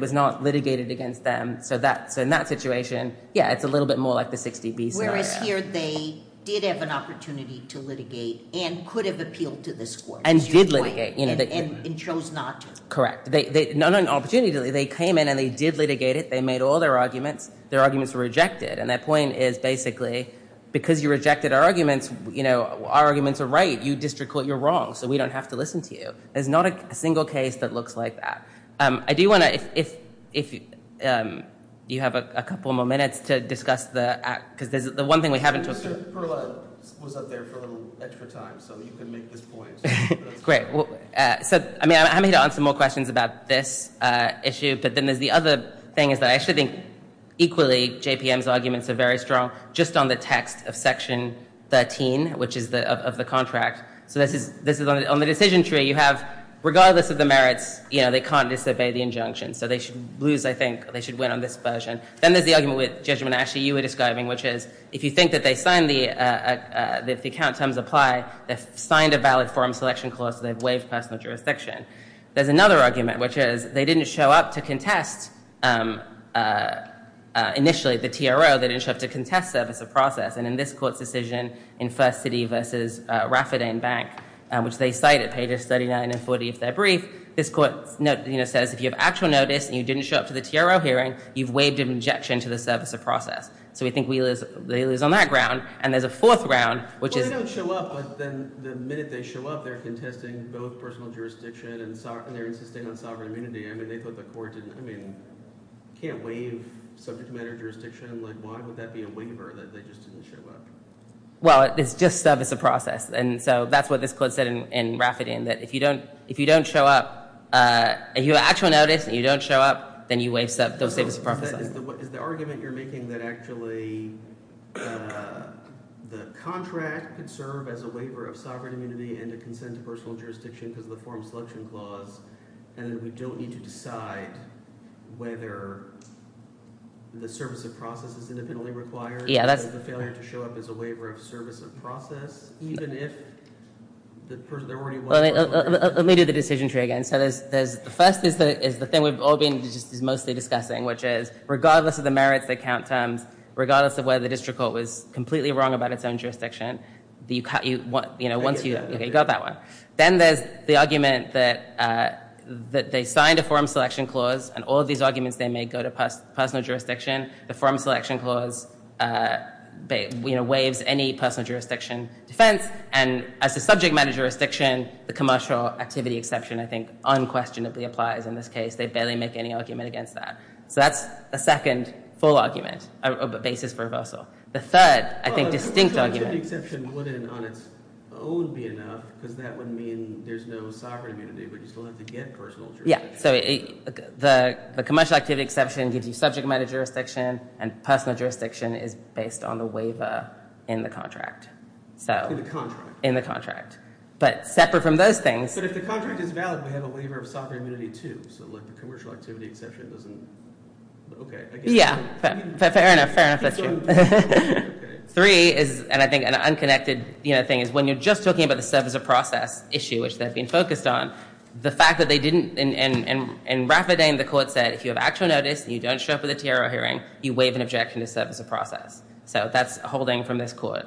was not litigated against them. So in that situation, yeah, it's a little bit more like the 60B scenario. Whereas here they did have an opportunity to litigate and could have appealed to this court. And did litigate. And chose not to. Correct. Not an opportunity. They came in and they did litigate it. They made all their arguments. Their arguments were rejected. And their point is, basically, because you rejected our arguments, you know, our arguments are right. You district court, you're wrong. So we don't have to listen to you. There's not a single case that looks like that. I do want to, if you have a couple more minutes to discuss the, because the one thing we haven't talked about. Mr. Perla was up there for a little extra time. So you can make this point. Great. So, I mean, I'm here to answer more questions about this issue. But then there's the other thing is that I actually think, equally, JPM's arguments are very strong. Just on the text of section 13, which is of the contract. So this is on the decision tree. You have, regardless of the merits, you know, they can't disobey the injunction. So they should lose, I think, they should win on this version. Then there's the argument with Judge Monashi you were describing, which is, if you think that they signed the account terms apply, they've signed a valid forum selection clause, so they've waived personal jurisdiction. There's another argument, which is they didn't show up to contest, initially, the TRO. They didn't show up to contest service of process. And in this court's decision in First City versus Rafferty and Bank, which they cited, pages 39 and 40, if they're brief, this court, you know, says if you have actual notice and you didn't show up to the TRO hearing, you've waived an injection to the service of process. So we think they lose on that ground. And there's a fourth round, which is. They don't show up, but then the minute they show up, they're contesting both personal jurisdiction and they're insisting on sovereign immunity. I mean, they thought the court didn't, I mean, can't waive subject matter jurisdiction. Like, why would that be a waiver that they just didn't show up? Well, it's just service of process, and so that's what this court said in Rafferty, in that if you don't show up, if you have actual notice and you don't show up, then you waive those services of process. Is the argument you're making that actually the contract could serve as a waiver of sovereign immunity and a consent to personal jurisdiction because of the forum selection clause, and that we don't need to decide whether the service of process is independently required or the failure to show up is a waiver of service of process, even if the person, there already was. Let me do the decision tree again. The first is the thing we've all been mostly discussing, which is regardless of the merits that count terms, regardless of whether the district court was completely wrong about its own jurisdiction, you got that one. Then there's the argument that they signed a forum selection clause, and all of these arguments they made go to personal jurisdiction. The forum selection clause waives any personal jurisdiction defense, and as a subject matter jurisdiction, the commercial activity exception, I think, unquestionably applies in this case. They barely make any argument against that. So that's a second full argument, a basis for reversal. The third, I think, distinct argument. The exception wouldn't on its own be enough because that would mean there's no sovereign immunity, but you still have to get personal jurisdiction. The commercial activity exception gives you subject matter jurisdiction, and personal jurisdiction is based on the waiver in the contract. In the contract. In the contract. But separate from those things. But if the contract is valid, we have a waiver of sovereign immunity, too. So the commercial activity exception doesn't. Yeah. Fair enough. Fair enough. Three is, and I think an unconnected thing, is when you're just talking about the service of process issue, which they've been focused on, the fact that they didn't, and Rafferty and the court said, if you have actual notice and you don't show up for the TRO hearing, you waive an objection to service of process. So that's a holding from this court.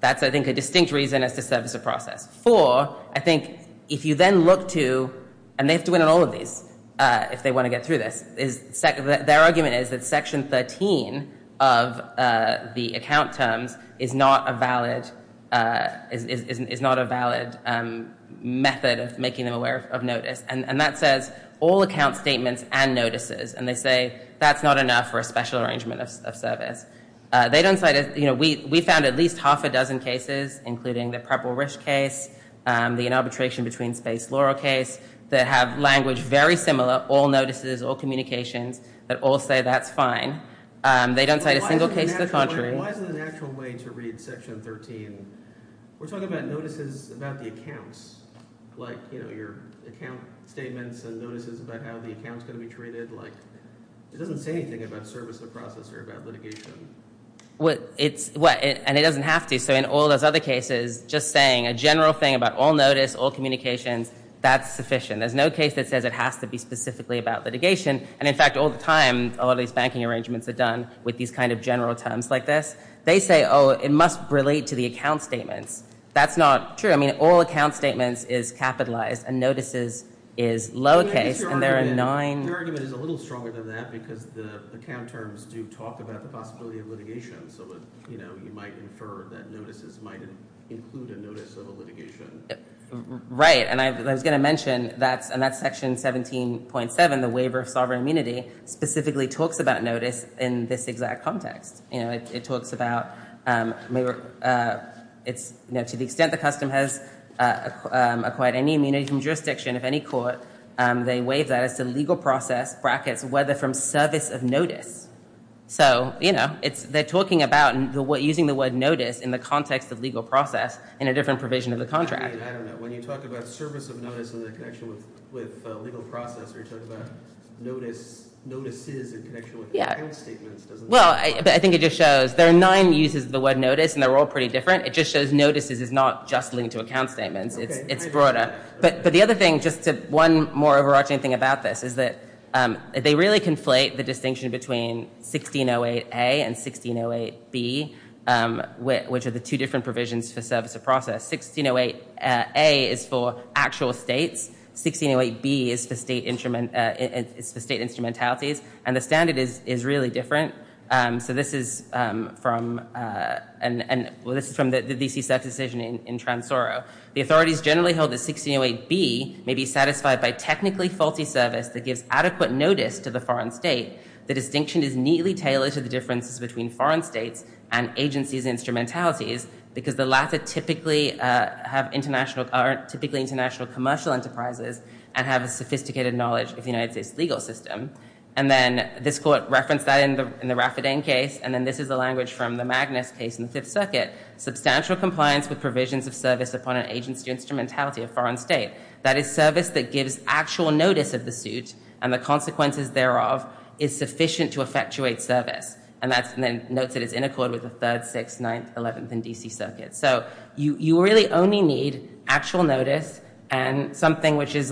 That's, I think, a distinct reason as to service of process. Four, I think, if you then look to, and they have to win on all of these if they want to get through this, their argument is that section 13 of the account terms is not a valid method of making them aware of notice. And that says all account statements and notices. And they say that's not enough for a special arrangement of service. They don't cite, you know, we found at least half a dozen cases, including the Preble-Risch case, the inarbitration between space Laurel case, that have language very similar, all notices, all communications, that all say that's fine. They don't cite a single case to the contrary. Why is it a natural way to read section 13? We're talking about notices about the accounts. Like, you know, your account statements and notices about how the account's going to be treated. It doesn't say anything about service of process or about litigation. And it doesn't have to. So in all those other cases, just saying a general thing about all notice, all communications, that's sufficient. There's no case that says it has to be specifically about litigation. And, in fact, all the time, all these banking arrangements are done with these kind of general terms like this. They say, oh, it must relate to the account statements. That's not true. I mean, all account statements is capitalized and notices is lowercase. And there are nine. Your argument is a little stronger than that because the account terms do talk about the possibility of litigation. So, you know, you might infer that notices might include a notice of a litigation. Right. And I was going to mention, and that's section 17.7, the waiver of sovereign immunity, specifically talks about notice in this exact context. You know, it talks about to the extent the custom has acquired any immunity from jurisdiction of any court, they waive that as to legal process, brackets, whether from service of notice. So, you know, they're talking about using the word notice in the context of legal process in a different provision of the contract. I mean, I don't know. When you talk about service of notice and the connection with legal process, you're talking about notices in connection with account statements. Well, I think it just shows there are nine uses of the word notice, and they're all pretty different. It just shows notices is not just linked to account statements. It's broader. But the other thing, just one more overarching thing about this, is that they really conflate the distinction between 1608A and 1608B, which are the two different provisions for service of process. 1608A is for actual states. 1608B is for state instrumentalities. And the standard is really different. So this is from the D.C. Circuit's decision in Transoro. The authorities generally hold that 1608B may be satisfied by technically faulty service that gives adequate notice to the foreign state. The distinction is neatly tailored to the differences between foreign states and agencies' instrumentalities because the latter typically have international commercial enterprises and have a sophisticated knowledge of the United States legal system. And then this court referenced that in the Raffodin case, and then this is the language from the Magnus case in the Fifth Circuit. Substantial compliance with provisions of service upon an agency instrumentality of foreign state. That is service that gives actual notice of the suit and the consequences thereof is sufficient to effectuate service. And then notes that it's in accord with the Third, Sixth, Ninth, Eleventh, and D.C. Circuits. So you really only need actual notice and something which is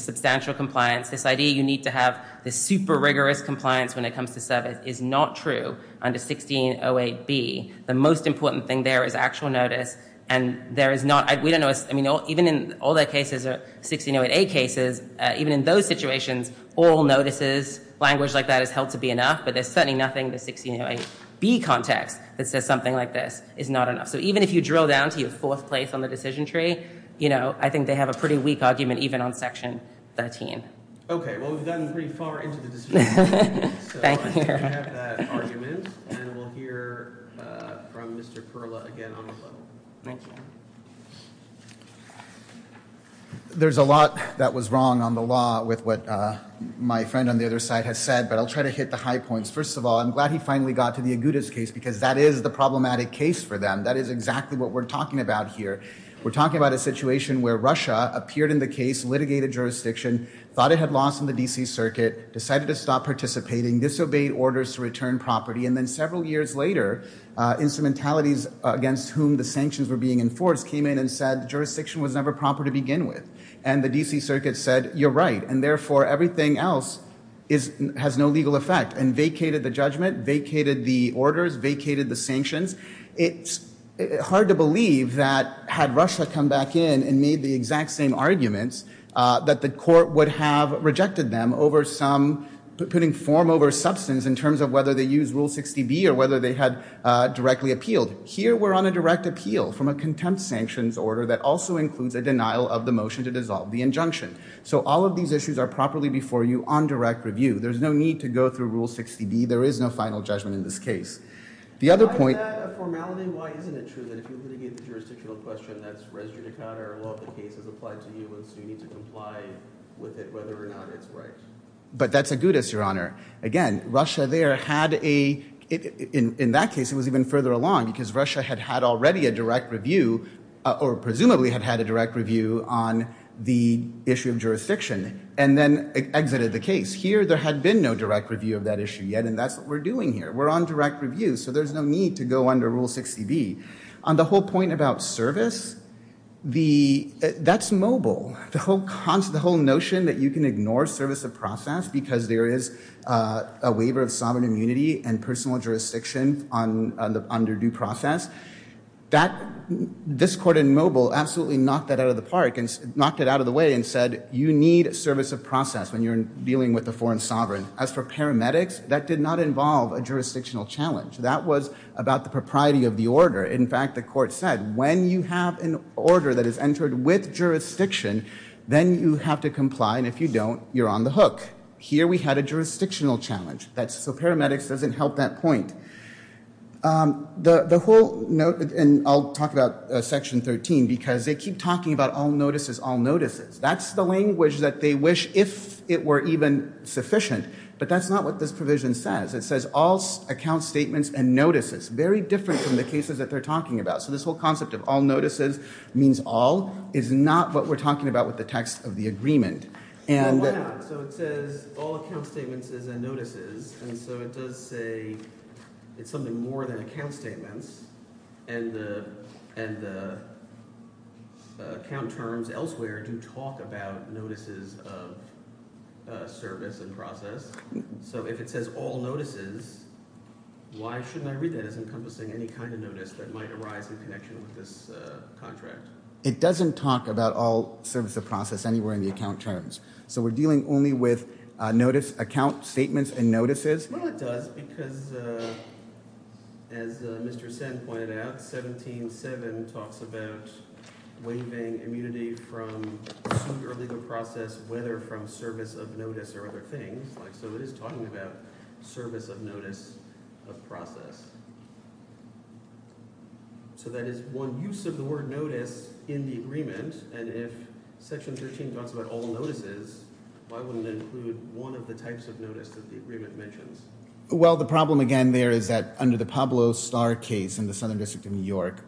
substantial compliance. This idea you need to have this super rigorous compliance when it comes to service is not true under 1608B. The most important thing there is actual notice, and there is not, we don't know, I mean, even in all the cases, 1608A cases, even in those situations, oral notices, language like that is held to be enough, but there's certainly nothing in the 1608B context that says something like this is not enough. So even if you drill down to your fourth place on the decision tree, you know, I think they have a pretty weak argument even on Section 13. Okay, well, we've gotten pretty far into the decision tree. So I think we have that argument, and we'll hear from Mr. Perla again on the floor. Thank you. There's a lot that was wrong on the law with what my friend on the other side has said, but I'll try to hit the high points. First of all, I'm glad he finally got to the Agudas case because that is the problematic case for them. That is exactly what we're talking about here. We're talking about a situation where Russia appeared in the case, litigated jurisdiction, thought it had lost in the D.C. Circuit, decided to stop participating, disobeyed orders to return property, and then several years later, instrumentalities against whom the sanctions were being enforced came in and said the jurisdiction was never proper to begin with, and the D.C. Circuit said, you're right, and therefore everything else has no legal effect and vacated the judgment, vacated the orders, vacated the sanctions. It's hard to believe that had Russia come back in and made the exact same arguments that the court would have rejected them over some, putting form over substance in terms of whether they used Rule 60B or whether they had directly appealed. Here we're on a direct appeal from a contempt sanctions order that also includes a denial of the motion to dissolve the injunction. So all of these issues are properly before you on direct review. There's no need to go through Rule 60B. There is no final judgment in this case. The other point- Why is that a formality? Why isn't it true that if you litigate the jurisdictional question, that's residue to counter a law that the case has applied to you, and so you need to comply with it whether or not it's right? But that's agudas, Your Honor. Again, Russia there had a- in that case, it was even further along because Russia had had already a direct review or presumably had had a direct review on the issue of jurisdiction and then exited the case. Here, there had been no direct review of that issue yet, and that's what we're doing here. We're on direct review, so there's no need to go under Rule 60B. On the whole point about service, that's mobile. The whole notion that you can ignore service of process because there is a waiver of sovereign immunity and personal jurisdiction on the underdue process, this court in mobile absolutely knocked that out of the park and knocked it out of the way and said, you need service of process when you're dealing with a foreign sovereign. As for paramedics, that did not involve a jurisdictional challenge. That was about the propriety of the order. In fact, the court said when you have an order that is entered with jurisdiction, then you have to comply, and if you don't, you're on the hook. Here, we had a jurisdictional challenge. So paramedics doesn't help that point. The whole- and I'll talk about Section 13 because they keep talking about all notices, all notices. That's the language that they wish if it were even sufficient, but that's not what this provision says. It says all account statements and notices, very different from the cases that they're talking about. So this whole concept of all notices means all is not what we're talking about with the text of the agreement. Well, why not? So it says all account statements and notices, and so it does say it's something more than account statements, and the account terms elsewhere do talk about notices of service and process. So if it says all notices, why shouldn't I read that as encompassing any kind of notice that might arise in connection with this contract? It doesn't talk about all service of process anywhere in the account terms. So we're dealing only with notice, account statements, and notices. Well, it does because, as Mr. Sen pointed out, 17.7 talks about waiving immunity from suit or legal process, whether from service of notice or other things. So it is talking about service of notice of process. So that is one use of the word notice in the agreement, and if Section 13 talks about all notices, why wouldn't it include one of the types of notice that the agreement mentions? Well, the problem, again, there is that under the Pablo Starr case in the Southern District of New York,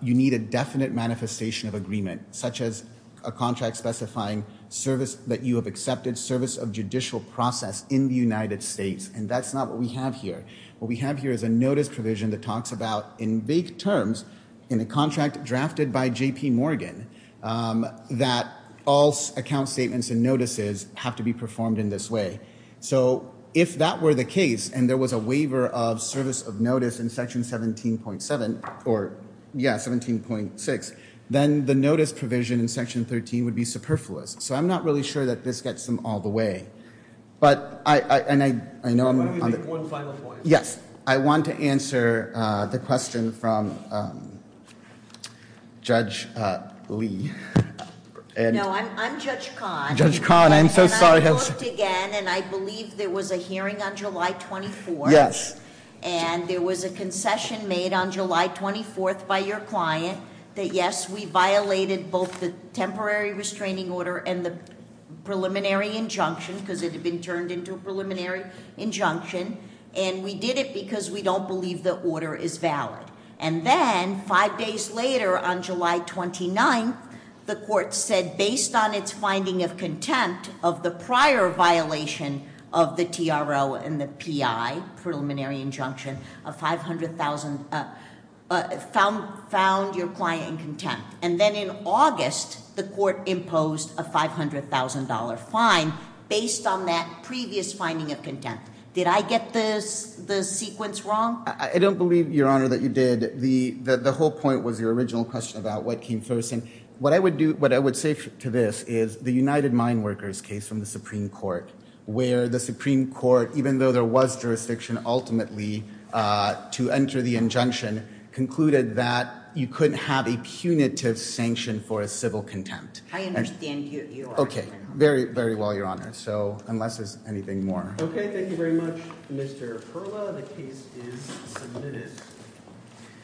you need a definite manifestation of agreement, such as a contract specifying service that you have accepted, service of judicial process in the United States, and that's not what we have here. What we have here is a notice provision that talks about, in vague terms, in a contract drafted by J.P. Morgan, that all account statements and notices have to be performed in this way. So if that were the case, and there was a waiver of service of notice in Section 17.7, or, yeah, 17.6, then the notice provision in Section 13 would be superfluous. So I'm not really sure that this gets them all the way. But I know I'm on the... Why don't you make one final point? Yes. I want to answer the question from Judge Lee. No, I'm Judge Kahn. Judge Kahn, I'm so sorry. I looked again, and I believe there was a hearing on July 24th. Yes. And there was a concession made on July 24th by your client that, yes, we violated both the temporary restraining order and the preliminary injunction, because it had been turned into a preliminary injunction, and we did it because we don't believe the order is valid. And then, five days later, on July 29th, the court said, based on its finding of contempt of the prior violation of the TRO and the PI, preliminary injunction, a $500,000... found your client in contempt. And then in August, the court imposed a $500,000 fine based on that previous finding of contempt. Did I get the sequence wrong? I don't believe, Your Honor, that you did. The whole point was your original question about what came first. And what I would say to this is the United Mine Workers case from the Supreme Court, where the Supreme Court, even though there was jurisdiction ultimately to enter the injunction, concluded that you couldn't have a punitive sanction for a civil contempt. I understand your argument. Okay, very well, Your Honor, unless there's anything more. Okay, thank you very much, Mr. Perla. The case is submitted.